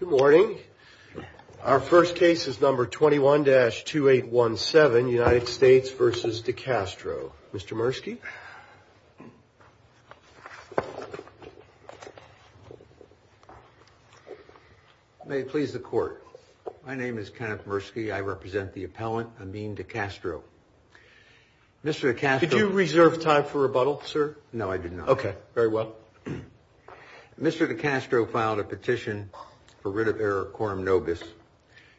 Good morning. Our first case is number 21-2817, United States vs. De Castro. Mr. Murski. May it please the court. My name is Kenneth Murski. I represent the appellant Amin De Castro. Mr. De Castro. Did you reserve time for rebuttal, sir? No, I did not. Okay, very well. Mr. De Castro filed a petition for writ of error quorum nobis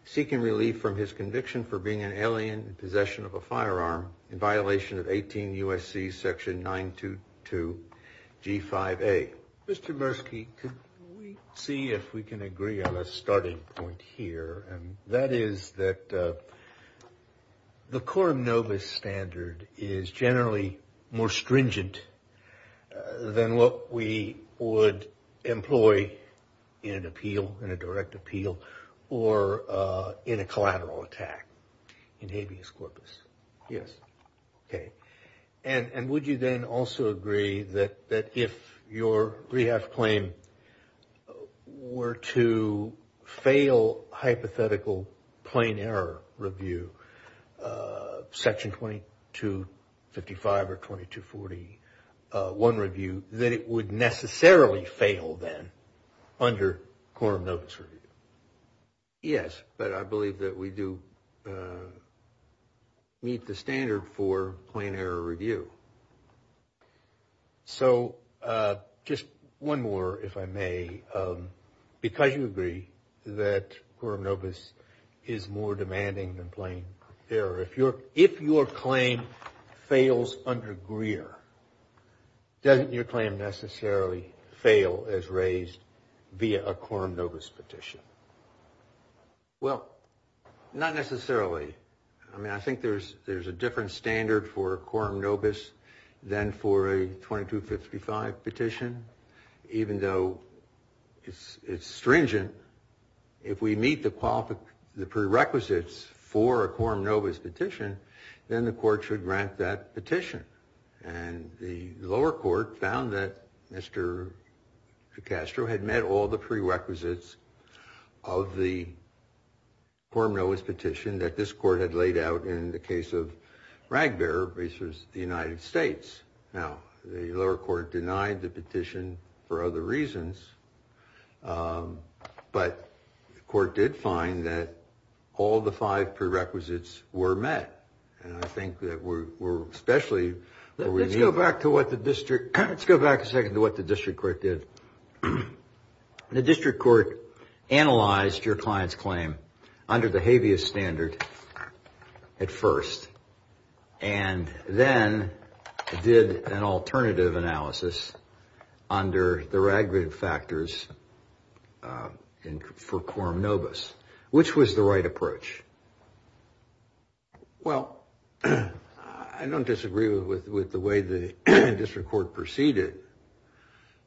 seeking relief from his conviction for being an alien in possession of a firearm in violation of 18 U.S.C. section 922 G5A. Mr. Murski, could we see if we can agree on a starting point here, and that is that the quorum nobis standard is generally more stringent than what we would employ in an appeal, in a direct appeal, or in a collateral attack in habeas corpus. Yes. Okay. And would you then also agree that if your rehab claim were to fail hypothetical plain error review, section 2255 or 2241 review, that it would necessarily fail then under quorum nobis review? Yes, but I believe that we do meet the standard for plain error review. So just one more, if I may. Because you agree that quorum nobis is more demanding than plain error, if your claim fails under Greer, doesn't your claim necessarily fail as raised via a quorum nobis petition? Well, not necessarily. I mean, I think there's a different standard for quorum nobis than for a 2255 petition. Even though it's stringent, if we meet the prerequisites for a quorum nobis petition, then the court should grant that petition. And the lower court found that Mr. Cacastro had met all the prerequisites of the quorum nobis petition that this court had laid out in the case of Ragbear versus the United States. Now, the lower court denied the petition for other reasons, but the court did find that all the five prerequisites were met. And I think that we're especially... Well, I don't disagree with the way the district court proceeded,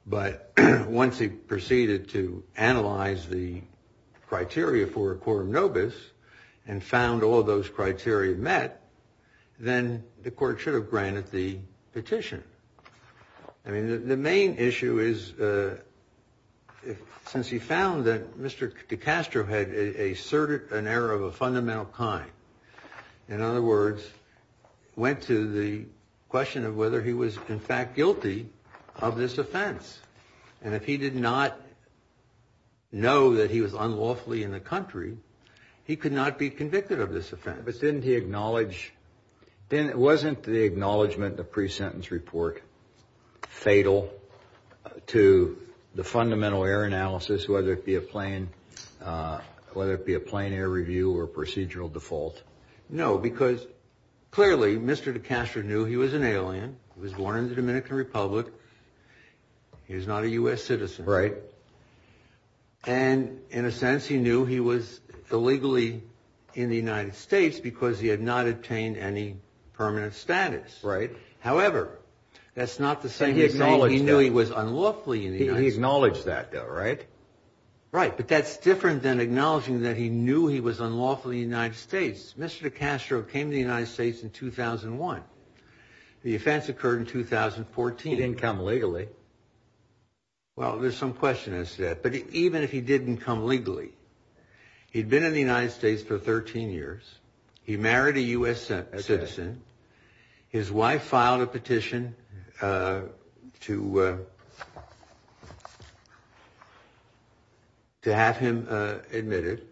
but once he proceeded to analyze the criteria for a quorum nobis and found all those criteria met, then the court should have granted the petition. I mean, the main issue is, since he found that Mr. Cacastro had asserted an error of a fundamental kind, in other words, went to the question of whether he was in fact guilty of this offense. And if he did not know that he was unlawfully in the country, he could not be convicted of this offense. But didn't he acknowledge... Wasn't the acknowledgment in the pre-sentence report fatal to the fundamental error analysis, whether it be a plain error review or procedural default? No, because clearly Mr. Cacastro knew he was an alien. He was born in the Dominican Republic. He was not a U.S. citizen. Right. And in a sense, he knew he was illegally in the United States because he had not obtained any permanent status. Right. However, that's not the same as saying he knew he was unlawfully in the United States. He acknowledged that, though, right? Right, but that's different than acknowledging that he knew he was unlawfully in the United States. Mr. Cacastro came to the United States in 2001. The offense occurred in 2014. He didn't come legally. Well, there's some question as to that. But even if he didn't come legally, he'd been in the United States for 13 years. He married a U.S. citizen. His wife filed a petition to have him admitted.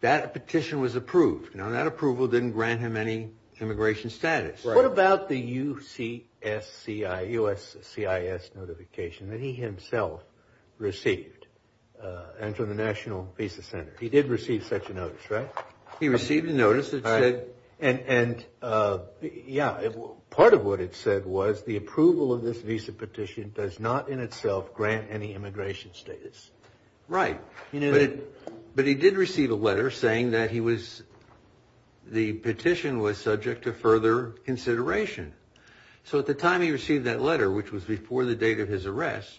That petition was approved. Now, that approval didn't grant him any immigration status. What about the USCIS notification that he himself received and from the National Visa Center? He did receive such a notice, right? He received a notice that said... And, yeah, part of what it said was the approval of this visa petition does not in itself grant any immigration status. Right, but he did receive a letter saying that the petition was subject to further consideration. So at the time he received that letter, which was before the date of his arrest,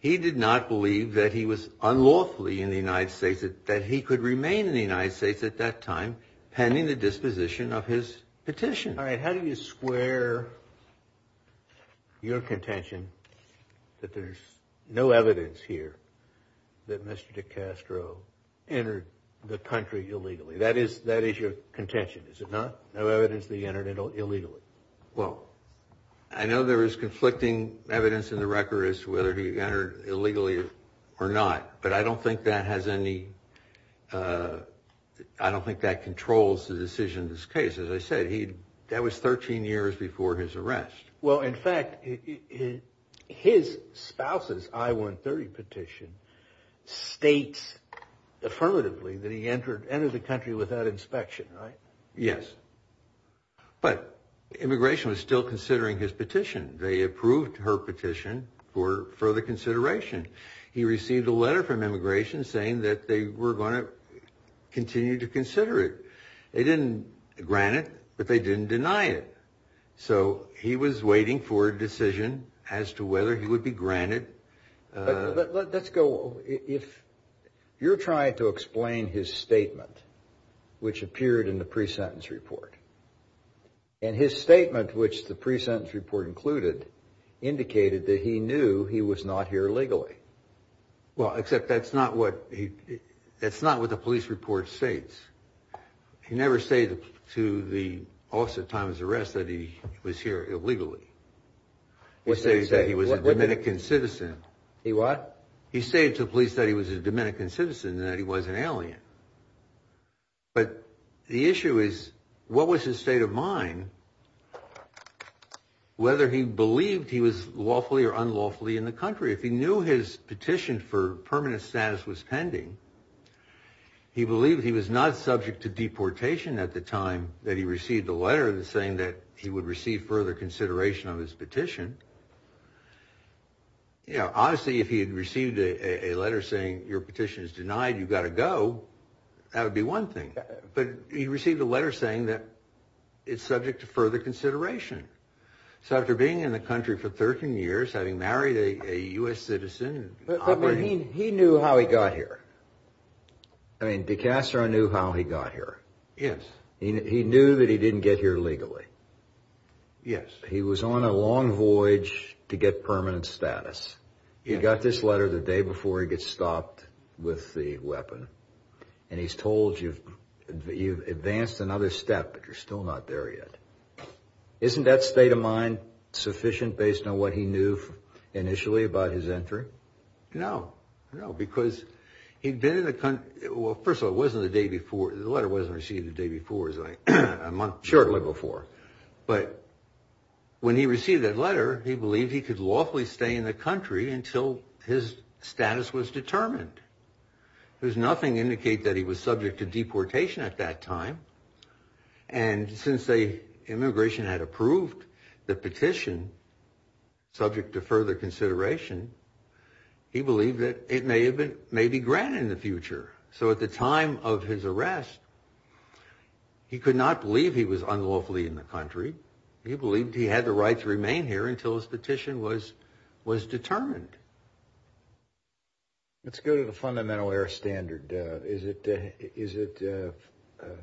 he did not believe that he was unlawfully in the United States, that he could remain in the United States at that time pending the disposition of his petition. All right, how do you square your contention that there's no evidence here that Mr. DeCastro entered the country illegally? That is your contention, is it not? No evidence that he entered illegally. Well, I know there is conflicting evidence in the record as to whether he entered illegally or not. But I don't think that has any... I don't think that controls the decision of this case. As I said, that was 13 years before his arrest. Well, in fact, his spouse's I-130 petition states affirmatively that he entered the country without inspection, right? Yes, but immigration was still considering his petition. They approved her petition for further consideration. He received a letter from immigration saying that they were going to continue to consider it. They didn't grant it, but they didn't deny it. So he was waiting for a decision as to whether he would be granted... You're trying to explain his statement, which appeared in the pre-sentence report. And his statement, which the pre-sentence report included, indicated that he knew he was not here illegally. Well, except that's not what the police report states. You never say to the officer at the time of his arrest that he was here illegally. He stated that he was a Dominican citizen. He what? He stated to the police that he was a Dominican citizen and that he wasn't alien. But the issue is, what was his state of mind, whether he believed he was lawfully or unlawfully in the country? If he knew his petition for permanent status was pending, he believed he was not subject to deportation at the time that he received the letter saying that he would receive further consideration of his petition. You know, honestly, if he had received a letter saying, your petition is denied, you've got to go, that would be one thing. But he received a letter saying that it's subject to further consideration. So after being in the country for 13 years, having married a U.S. citizen... But he knew how he got here. I mean, de Castro knew how he got here. Yes. He knew that he didn't get here legally. Yes. He was on a long voyage to get permanent status. He got this letter the day before he gets stopped with the weapon, and he's told you've advanced another step, but you're still not there yet. Isn't that state of mind sufficient based on what he knew initially about his entry? No, no, because he'd been in the country... Well, first of all, the letter wasn't received the day before. It was a month shortly before. But when he received that letter, he believed he could lawfully stay in the country until his status was determined. There's nothing to indicate that he was subject to deportation at that time. And since the immigration had approved the petition, subject to further consideration, he believed that it may be granted in the future. So at the time of his arrest, he could not believe he was unlawfully in the country. He believed he had the right to remain here until his petition was determined. Let's go to the fundamental error standard. Is it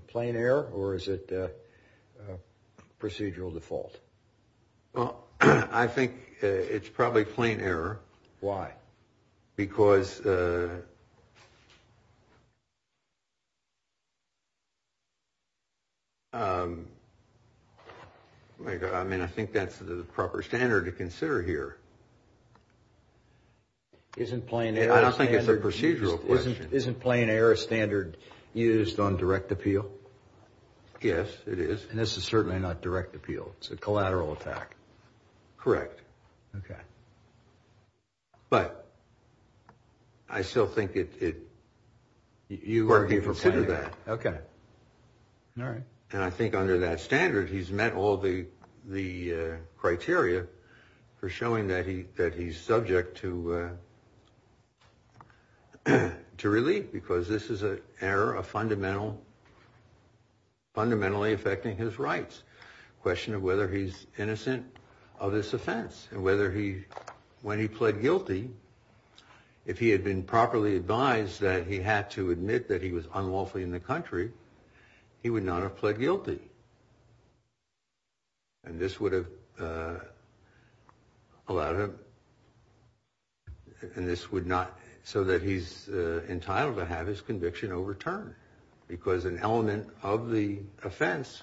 plain error or is it procedural default? Well, I think it's probably plain error. Why? Because... I mean, I think that's the proper standard to consider here. I don't think it's a procedural question. Isn't plain error a standard used on direct appeal? Yes, it is. And this is certainly not direct appeal. It's a collateral attack. Correct. Okay. But I still think it... You would consider that. Okay. All right. And I think under that standard, he's met all the criteria for showing that he's subject to relief because this is an error fundamentally affecting his rights. The question of whether he's innocent of this offense and whether he... When he pled guilty, if he had been properly advised that he had to admit that he was unlawfully in the country, he would not have pled guilty. And this would have allowed him... And this would not... So that he's entitled to have his conviction overturned because an element of the offense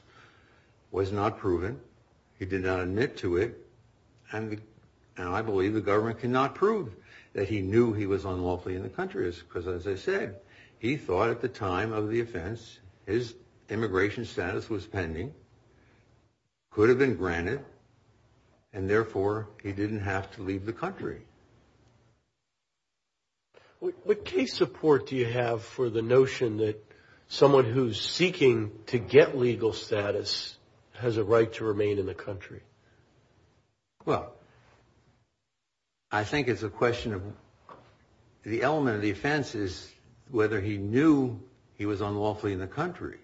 was not proven. He did not admit to it. And I believe the government cannot prove that he knew he was unlawfully in the country because, as I said, he thought at the time of the offense his immigration status was pending, could have been granted, and therefore he didn't have to leave the country. What case support do you have for the notion that someone who's seeking to get legal status has a right to remain in the country? Well, I think it's a question of the element of the offense is whether he knew he was unlawfully in the country.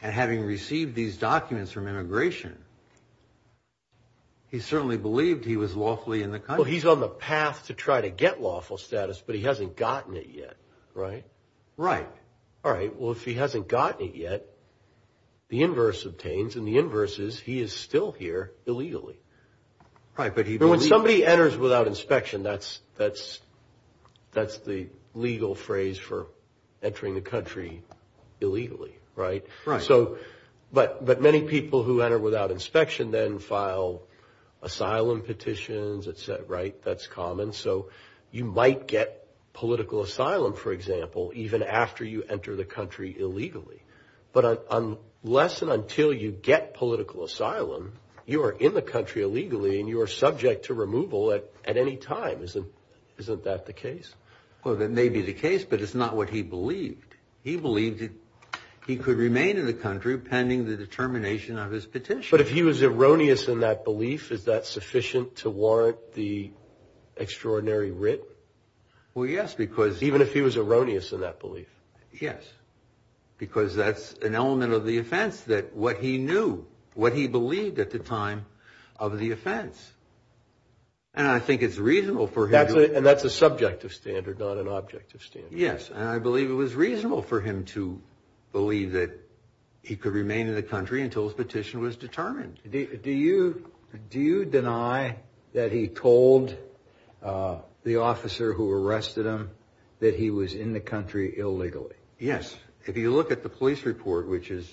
And having received these documents from immigration, he certainly believed he was lawfully in the country. Well, he's on the path to try to get lawful status, but he hasn't gotten it yet, right? Right. All right, well, if he hasn't gotten it yet, the inverse obtains, and the inverse is he is still here illegally. When somebody enters without inspection, that's the legal phrase for entering the country illegally, right? But many people who enter without inspection then file asylum petitions, et cetera, right? That's common. So you might get political asylum, for example, even after you enter the country illegally. But unless and until you get political asylum, you are in the country illegally, and you are subject to removal at any time. Isn't that the case? Well, that may be the case, but it's not what he believed. He believed that he could remain in the country pending the determination of his petition. But if he was erroneous in that belief, is that sufficient to warrant the extraordinary writ? Well, yes, because – Even if he was erroneous in that belief? Yes, because that's an element of the offense, that what he knew, what he believed at the time of the offense. And I think it's reasonable for him to – And that's a subjective standard, not an objective standard. Yes, and I believe it was reasonable for him to believe that he could remain in the country until his petition was determined. Do you deny that he told the officer who arrested him that he was in the country illegally? Yes. If you look at the police report, which is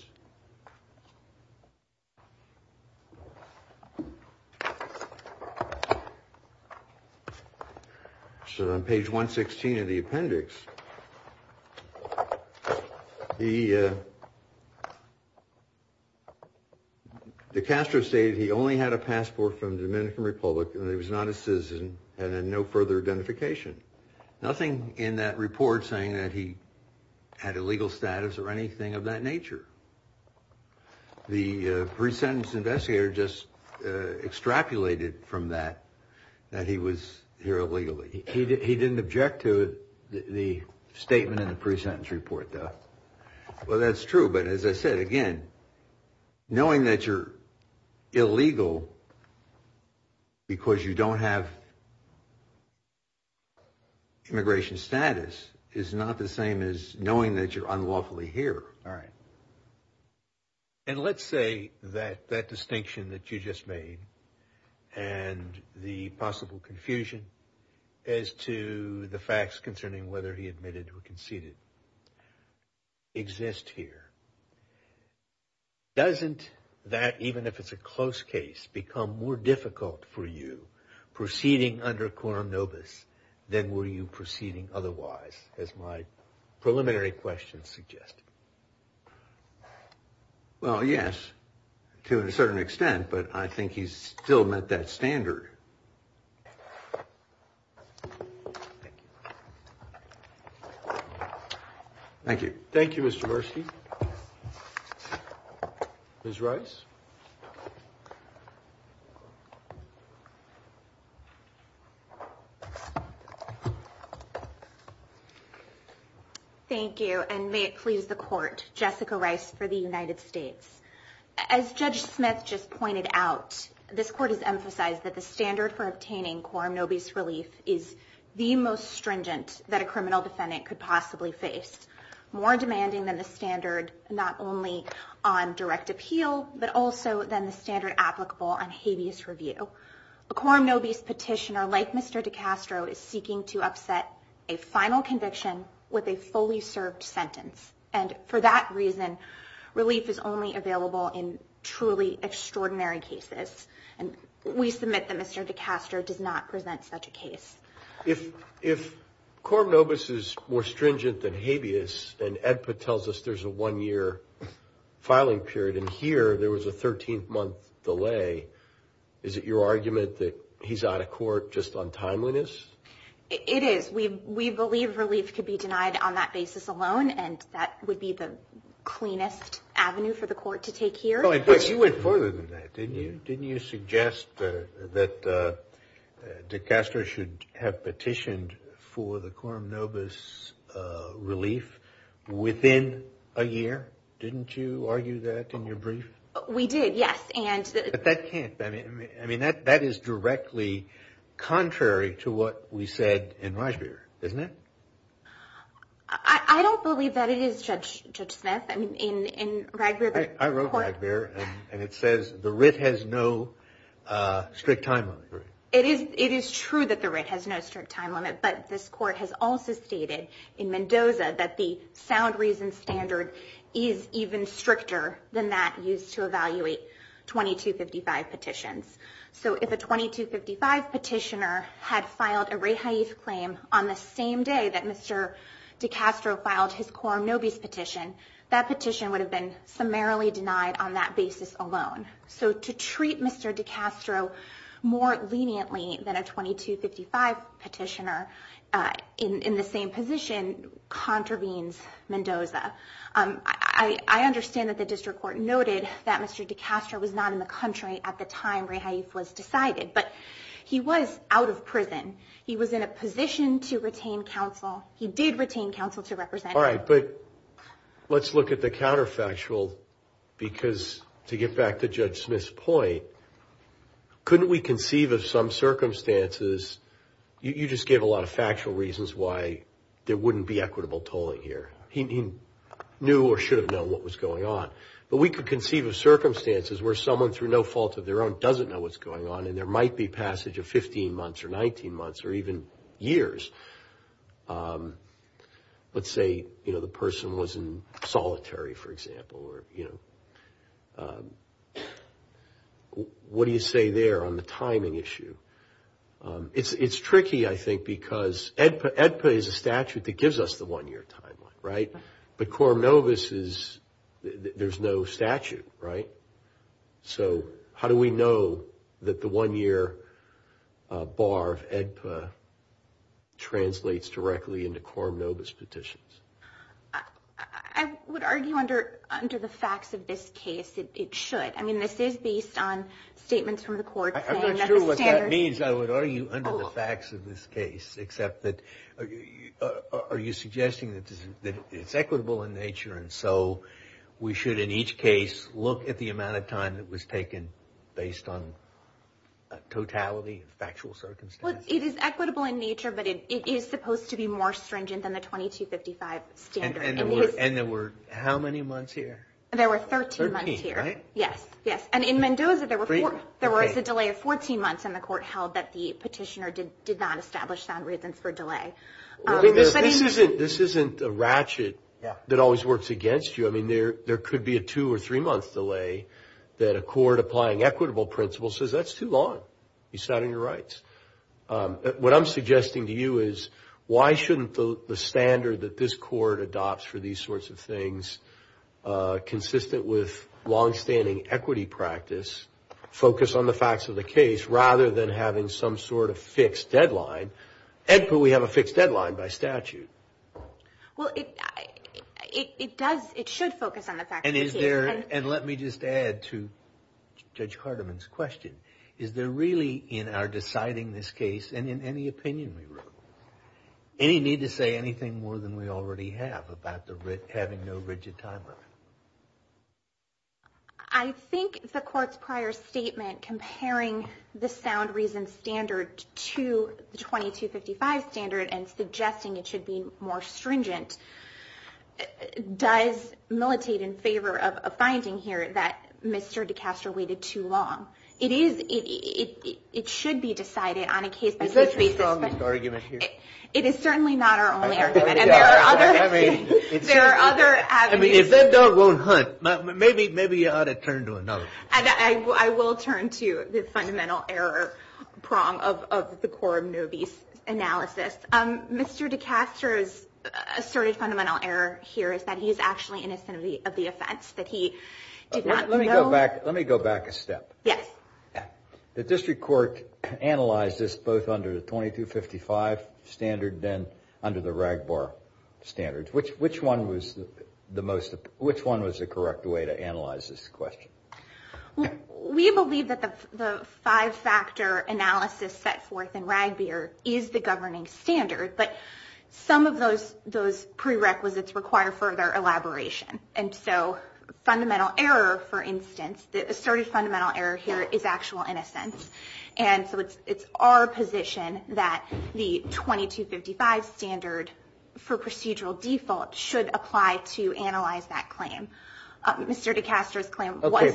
on page 116 of the appendix, De Castro stated he only had a passport from the Dominican Republic and that he was not a citizen and had no further identification. Nothing in that report saying that he had illegal status or anything of that nature. The pre-sentence investigator just extrapolated from that that he was here illegally. He didn't object to the statement in the pre-sentence report, though. Well, that's true, but as I said again, knowing that you're illegal because you don't have immigration status is not the same as knowing that you're unlawfully here. All right. And let's say that that distinction that you just made and the possible confusion as to the facts concerning whether he admitted or conceded exist here. Doesn't that, even if it's a close case, become more difficult for you proceeding under Coram Nobis than were you proceeding otherwise, as my preliminary questions suggest? Well, yes, to a certain extent, but I think he's still met that standard. Thank you. Thank you. Thank you, Mr. Burski. Ms. Rice. Thank you, and may it please the Court, Jessica Rice for the United States. As Judge Smith just pointed out, this Court has emphasized that the standard for obtaining Coram Nobis relief is the most stringent that a criminal defendant could possibly face, more demanding than the standard not only on direct appeal, but also than the standard applicable on habeas review. A Coram Nobis petitioner, like Mr. DiCastro, is seeking to upset a final conviction with a fully served sentence. And for that reason, relief is only available in truly extraordinary cases, and we submit that Mr. DiCastro does not present such a case. If Coram Nobis is more stringent than habeas, and EDPA tells us there's a one-year filing period, and here there was a 13-month delay, is it your argument that he's out of court just on timeliness? It is. We believe relief could be denied on that basis alone, and that would be the cleanest avenue for the Court to take here. But you went further than that, didn't you? Didn't you suggest that DiCastro should have petitioned for the Coram Nobis relief within a year? Didn't you argue that in your brief? We did, yes. But that is directly contrary to what we said in Ragbir, isn't it? I don't believe that it is, Judge Smith. I wrote Ragbir, and it says the writ has no strict time limit. It is true that the writ has no strict time limit, but this Court has also stated in Mendoza that the sound reason standard is even stricter than that used to evaluate 2255 petitions. So if a 2255 petitioner had filed a rehaif claim on the same day that Mr. DiCastro filed his Coram Nobis petition, that petition would have been summarily denied on that basis alone. So to treat Mr. DiCastro more leniently than a 2255 petitioner in the same position contravenes Mendoza. I understand that the District Court noted that Mr. DiCastro was not in the country at the time rehaif was decided, but he was out of prison. He was in a position to retain counsel. He did retain counsel to represent him. But let's look at the counterfactual, because to get back to Judge Smith's point, couldn't we conceive of some circumstances? You just gave a lot of factual reasons why there wouldn't be equitable tolling here. He knew or should have known what was going on. But we could conceive of circumstances where someone, through no fault of their own, doesn't know what's going on, and there might be passage of 15 months or 19 months or even years. Let's say the person was in solitary, for example. What do you say there on the timing issue? It's tricky, I think, because AEDPA is a statute that gives us the one-year timeline, right? But Coram Nobis, there's no statute, right? So how do we know that the one-year bar of AEDPA translates directly into Coram Nobis petitions? I would argue under the facts of this case, it should. I mean, this is based on statements from the court saying that the standard... I'm not sure what that means. I would argue under the facts of this case, except that are you suggesting that it's equitable in nature, and so we should, in each case, look at the amount of time that was taken based on totality, factual circumstances? Well, it is equitable in nature, but it is supposed to be more stringent than the 2255 standard. And there were how many months here? There were 13 months here. 13, right? Yes, yes. And in Mendoza, there was a delay of 14 months, and the court held that the petitioner did not establish sound reasons for delay. This isn't a ratchet that always works against you. I mean, there could be a two- or three-month delay that a court applying equitable principles says, that's too long. It's not in your rights. What I'm suggesting to you is, why shouldn't the standard that this court adopts for these sorts of things, consistent with longstanding equity practice, focus on the facts of the case rather than having some sort of fixed deadline? And could we have a fixed deadline by statute? Well, it does. It should focus on the facts of the case. And let me just add to Judge Hardiman's question. Is there really, in our deciding this case and in any opinion we wrote, any need to say anything more than we already have about having no rigid timeline? I think the court's prior statement comparing the sound reasons standard to the 2255 standard and suggesting it should be more stringent does militate in favor of a finding here that Mr. DeCastro waited too long. It should be decided on a case-by-case basis. Is that the strongest argument here? It is certainly not our only argument. There are other avenues. I mean, if that dog won't hunt, maybe you ought to turn to another. I will turn to the fundamental error prong of the Corum Nobis analysis. Mr. DeCastro's asserted fundamental error here is that he is actually innocent of the offense, that he did not know. Let me go back a step. Yes. The district court analyzed this both under the 2255 standard and under the RAGBAR standard. Which one was the correct way to analyze this question? We believe that the five-factor analysis set forth in RAGBAR is the governing standard, but some of those prerequisites require further elaboration. And so fundamental error, for instance, the asserted fundamental error here is actual innocence. And so it's our position that the 2255 standard for procedural default should apply to analyze that claim. Mr. DeCastro's claim was procedurally.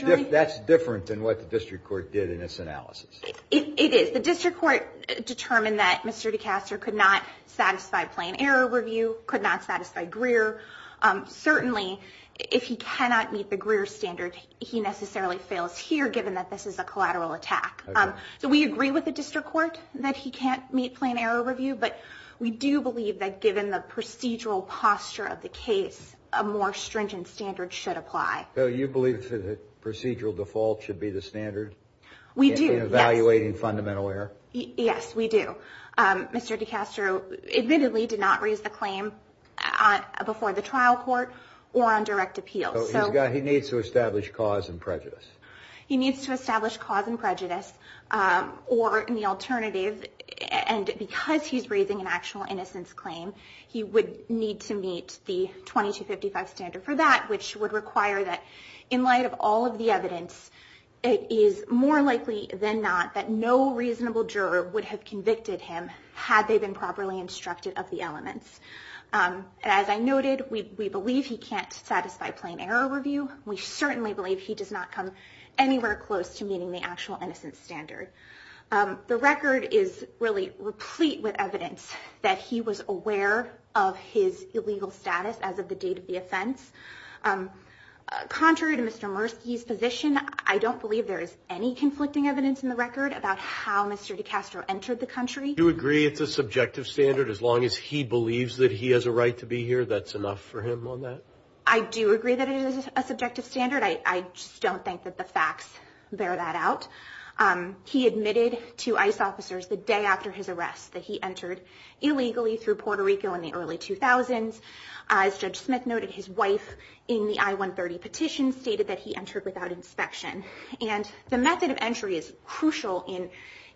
Okay, but that's different than what the district court did in its analysis. It is. The district court determined that Mr. DeCastro could not satisfy plain error review, could not satisfy Greer. Certainly, if he cannot meet the Greer standard, he necessarily fails here, given that this is a collateral attack. So we agree with the district court that he can't meet plain error review, but we do believe that given the procedural posture of the case, a more stringent standard should apply. So you believe that procedural default should be the standard in evaluating fundamental error? Yes, we do. Mr. DeCastro admittedly did not raise the claim before the trial court or on direct appeal. So he needs to establish cause and prejudice. He needs to establish cause and prejudice or the alternative, and because he's raising an actual innocence claim, he would need to meet the 2255 standard for that, which would require that in light of all of the evidence, it is more likely than not that no reasonable juror would have convicted him had they been properly instructed of the elements. As I noted, we believe he can't satisfy plain error review. We certainly believe he does not come anywhere close to meeting the actual innocence standard. The record is really replete with evidence that he was aware of his illegal status as of the date of the offense. Contrary to Mr. Mursky's position, I don't believe there is any conflicting evidence in the record about how Mr. DeCastro entered the country. Do you agree it's a subjective standard as long as he believes that he has a right to be here, that's enough for him on that? I do agree that it is a subjective standard. I just don't think that the facts bear that out. He admitted to ICE officers the day after his arrest that he entered illegally through Puerto Rico in the early 2000s. As Judge Smith noted, his wife in the I-130 petition stated that he entered without inspection. And the method of entry is crucial in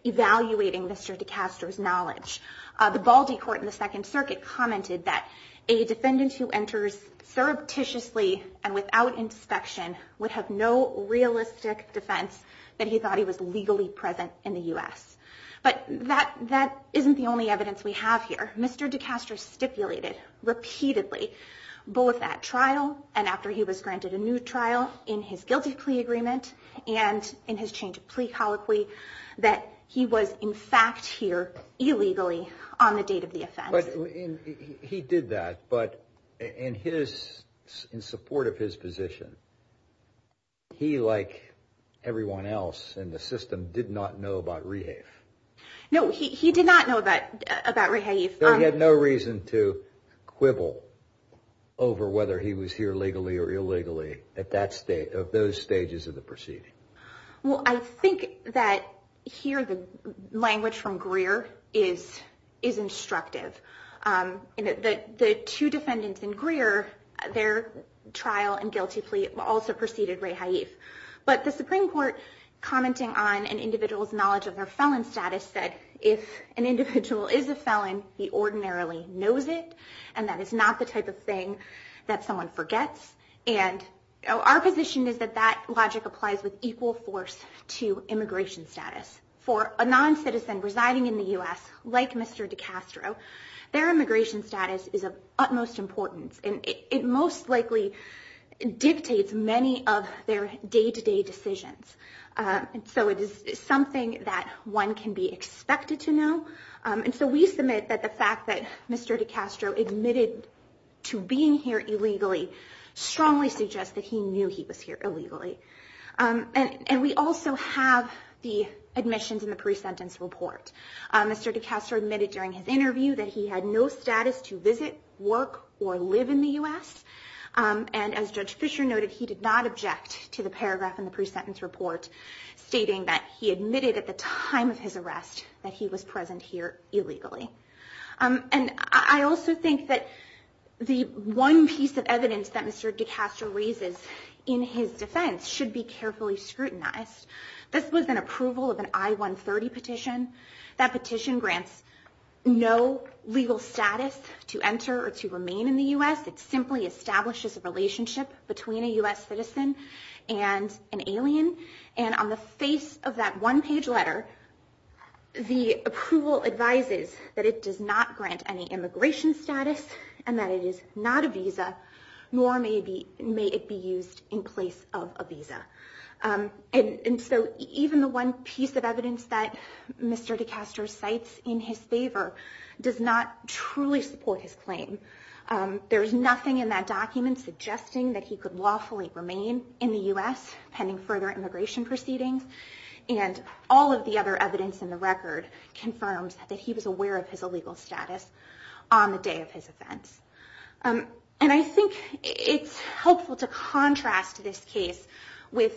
evaluating Mr. DeCastro's knowledge. The Baldy Court in the Second Circuit commented that a defendant who enters surreptitiously and without inspection would have no realistic defense that he thought he was legally present in the U.S. But that isn't the only evidence we have here. Mr. DeCastro stipulated repeatedly, both at trial and after he was granted a new trial in his guilty plea agreement and in his change of plea colloquy, that he was in fact here illegally on the date of the offense. He did that, but in support of his position, he, like everyone else in the system, did not know about rehave. No, he did not know about rehave. So he had no reason to quibble over whether he was here legally or illegally at those stages of the proceeding. Well, I think that here the language from Greer is instructive. The two defendants in Greer, their trial and guilty plea also preceded rehave. But the Supreme Court, commenting on an individual's knowledge of their felon status, said, if an individual is a felon, he ordinarily knows it, and that is not the type of thing that someone forgets. And our position is that that logic applies with equal force to immigration status. For a non-citizen residing in the U.S., like Mr. DeCastro, their immigration status is of utmost importance. And it most likely dictates many of their day-to-day decisions. So it is something that one can be expected to know. And so we submit that the fact that Mr. DeCastro admitted to being here illegally strongly suggests that he knew he was here illegally. And we also have the admissions and the pre-sentence report. Mr. DeCastro admitted during his interview that he had no status to visit, work, or live in the U.S. And as Judge Fisher noted, he did not object to the paragraph in the pre-sentence report stating that he admitted at the time of his arrest that he was present here illegally. And I also think that the one piece of evidence that Mr. DeCastro raises in his defense should be carefully scrutinized. This was an approval of an I-130 petition. That petition grants no legal status to enter or to remain in the U.S. It simply establishes a relationship between a U.S. citizen and an alien. And on the face of that one-page letter, the approval advises that it does not grant any immigration status and that it is not a visa, nor may it be used in place of a visa. And so even the one piece of evidence that Mr. DeCastro cites in his favor does not truly support his claim. There is nothing in that document suggesting that he could lawfully remain in the U.S. pending further immigration proceedings. And all of the other evidence in the record confirms that he was aware of his illegal status on the day of his offense. And I think it's helpful to contrast this case with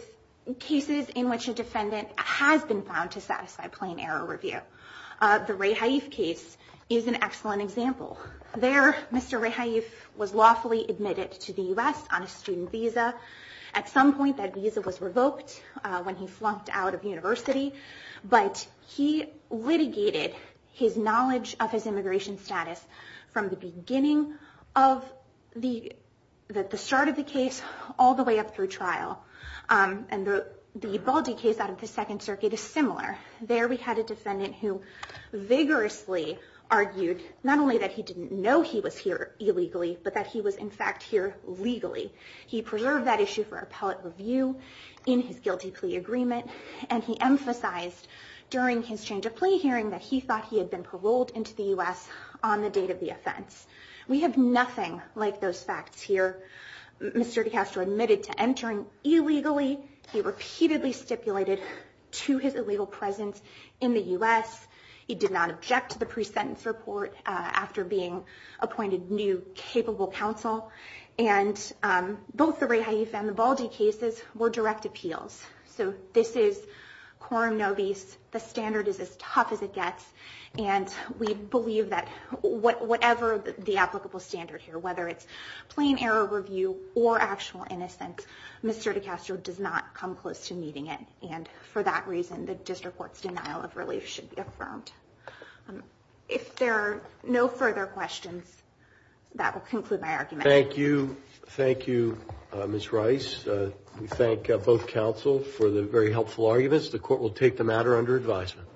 cases in which a defendant has been found to satisfy plain error review. The Ray Haif case is an excellent example. There, Mr. Ray Haif was lawfully admitted to the U.S. on a student visa. At some point, that visa was revoked when he flunked out of university. But he litigated his knowledge of his immigration status from the beginning of the start of the case all the way up through trial. And the Baldi case out of the Second Circuit is similar. There, we had a defendant who vigorously argued not only that he didn't know he was here illegally, but that he was, in fact, here legally. He preserved that issue for appellate review in his guilty plea agreement. And he emphasized during his change of plea hearing that he thought he had been paroled into the U.S. on the date of the offense. We have nothing like those facts here. Mr. DiCastro admitted to entering illegally. He repeatedly stipulated to his illegal presence in the U.S. He did not object to the pre-sentence report after being appointed new capable counsel. And both the Ray Haifa and the Baldi cases were direct appeals. So this is quorum nobis. The standard is as tough as it gets. And we believe that whatever the applicable standard here, whether it's plain error review or actual innocence, Mr. DiCastro does not come close to meeting it. And for that reason, the district court's denial of relief should be affirmed. If there are no further questions, that will conclude my argument. Thank you. Thank you, Ms. Rice. We thank both counsel for the very helpful arguments. The court will take the matter under advisement.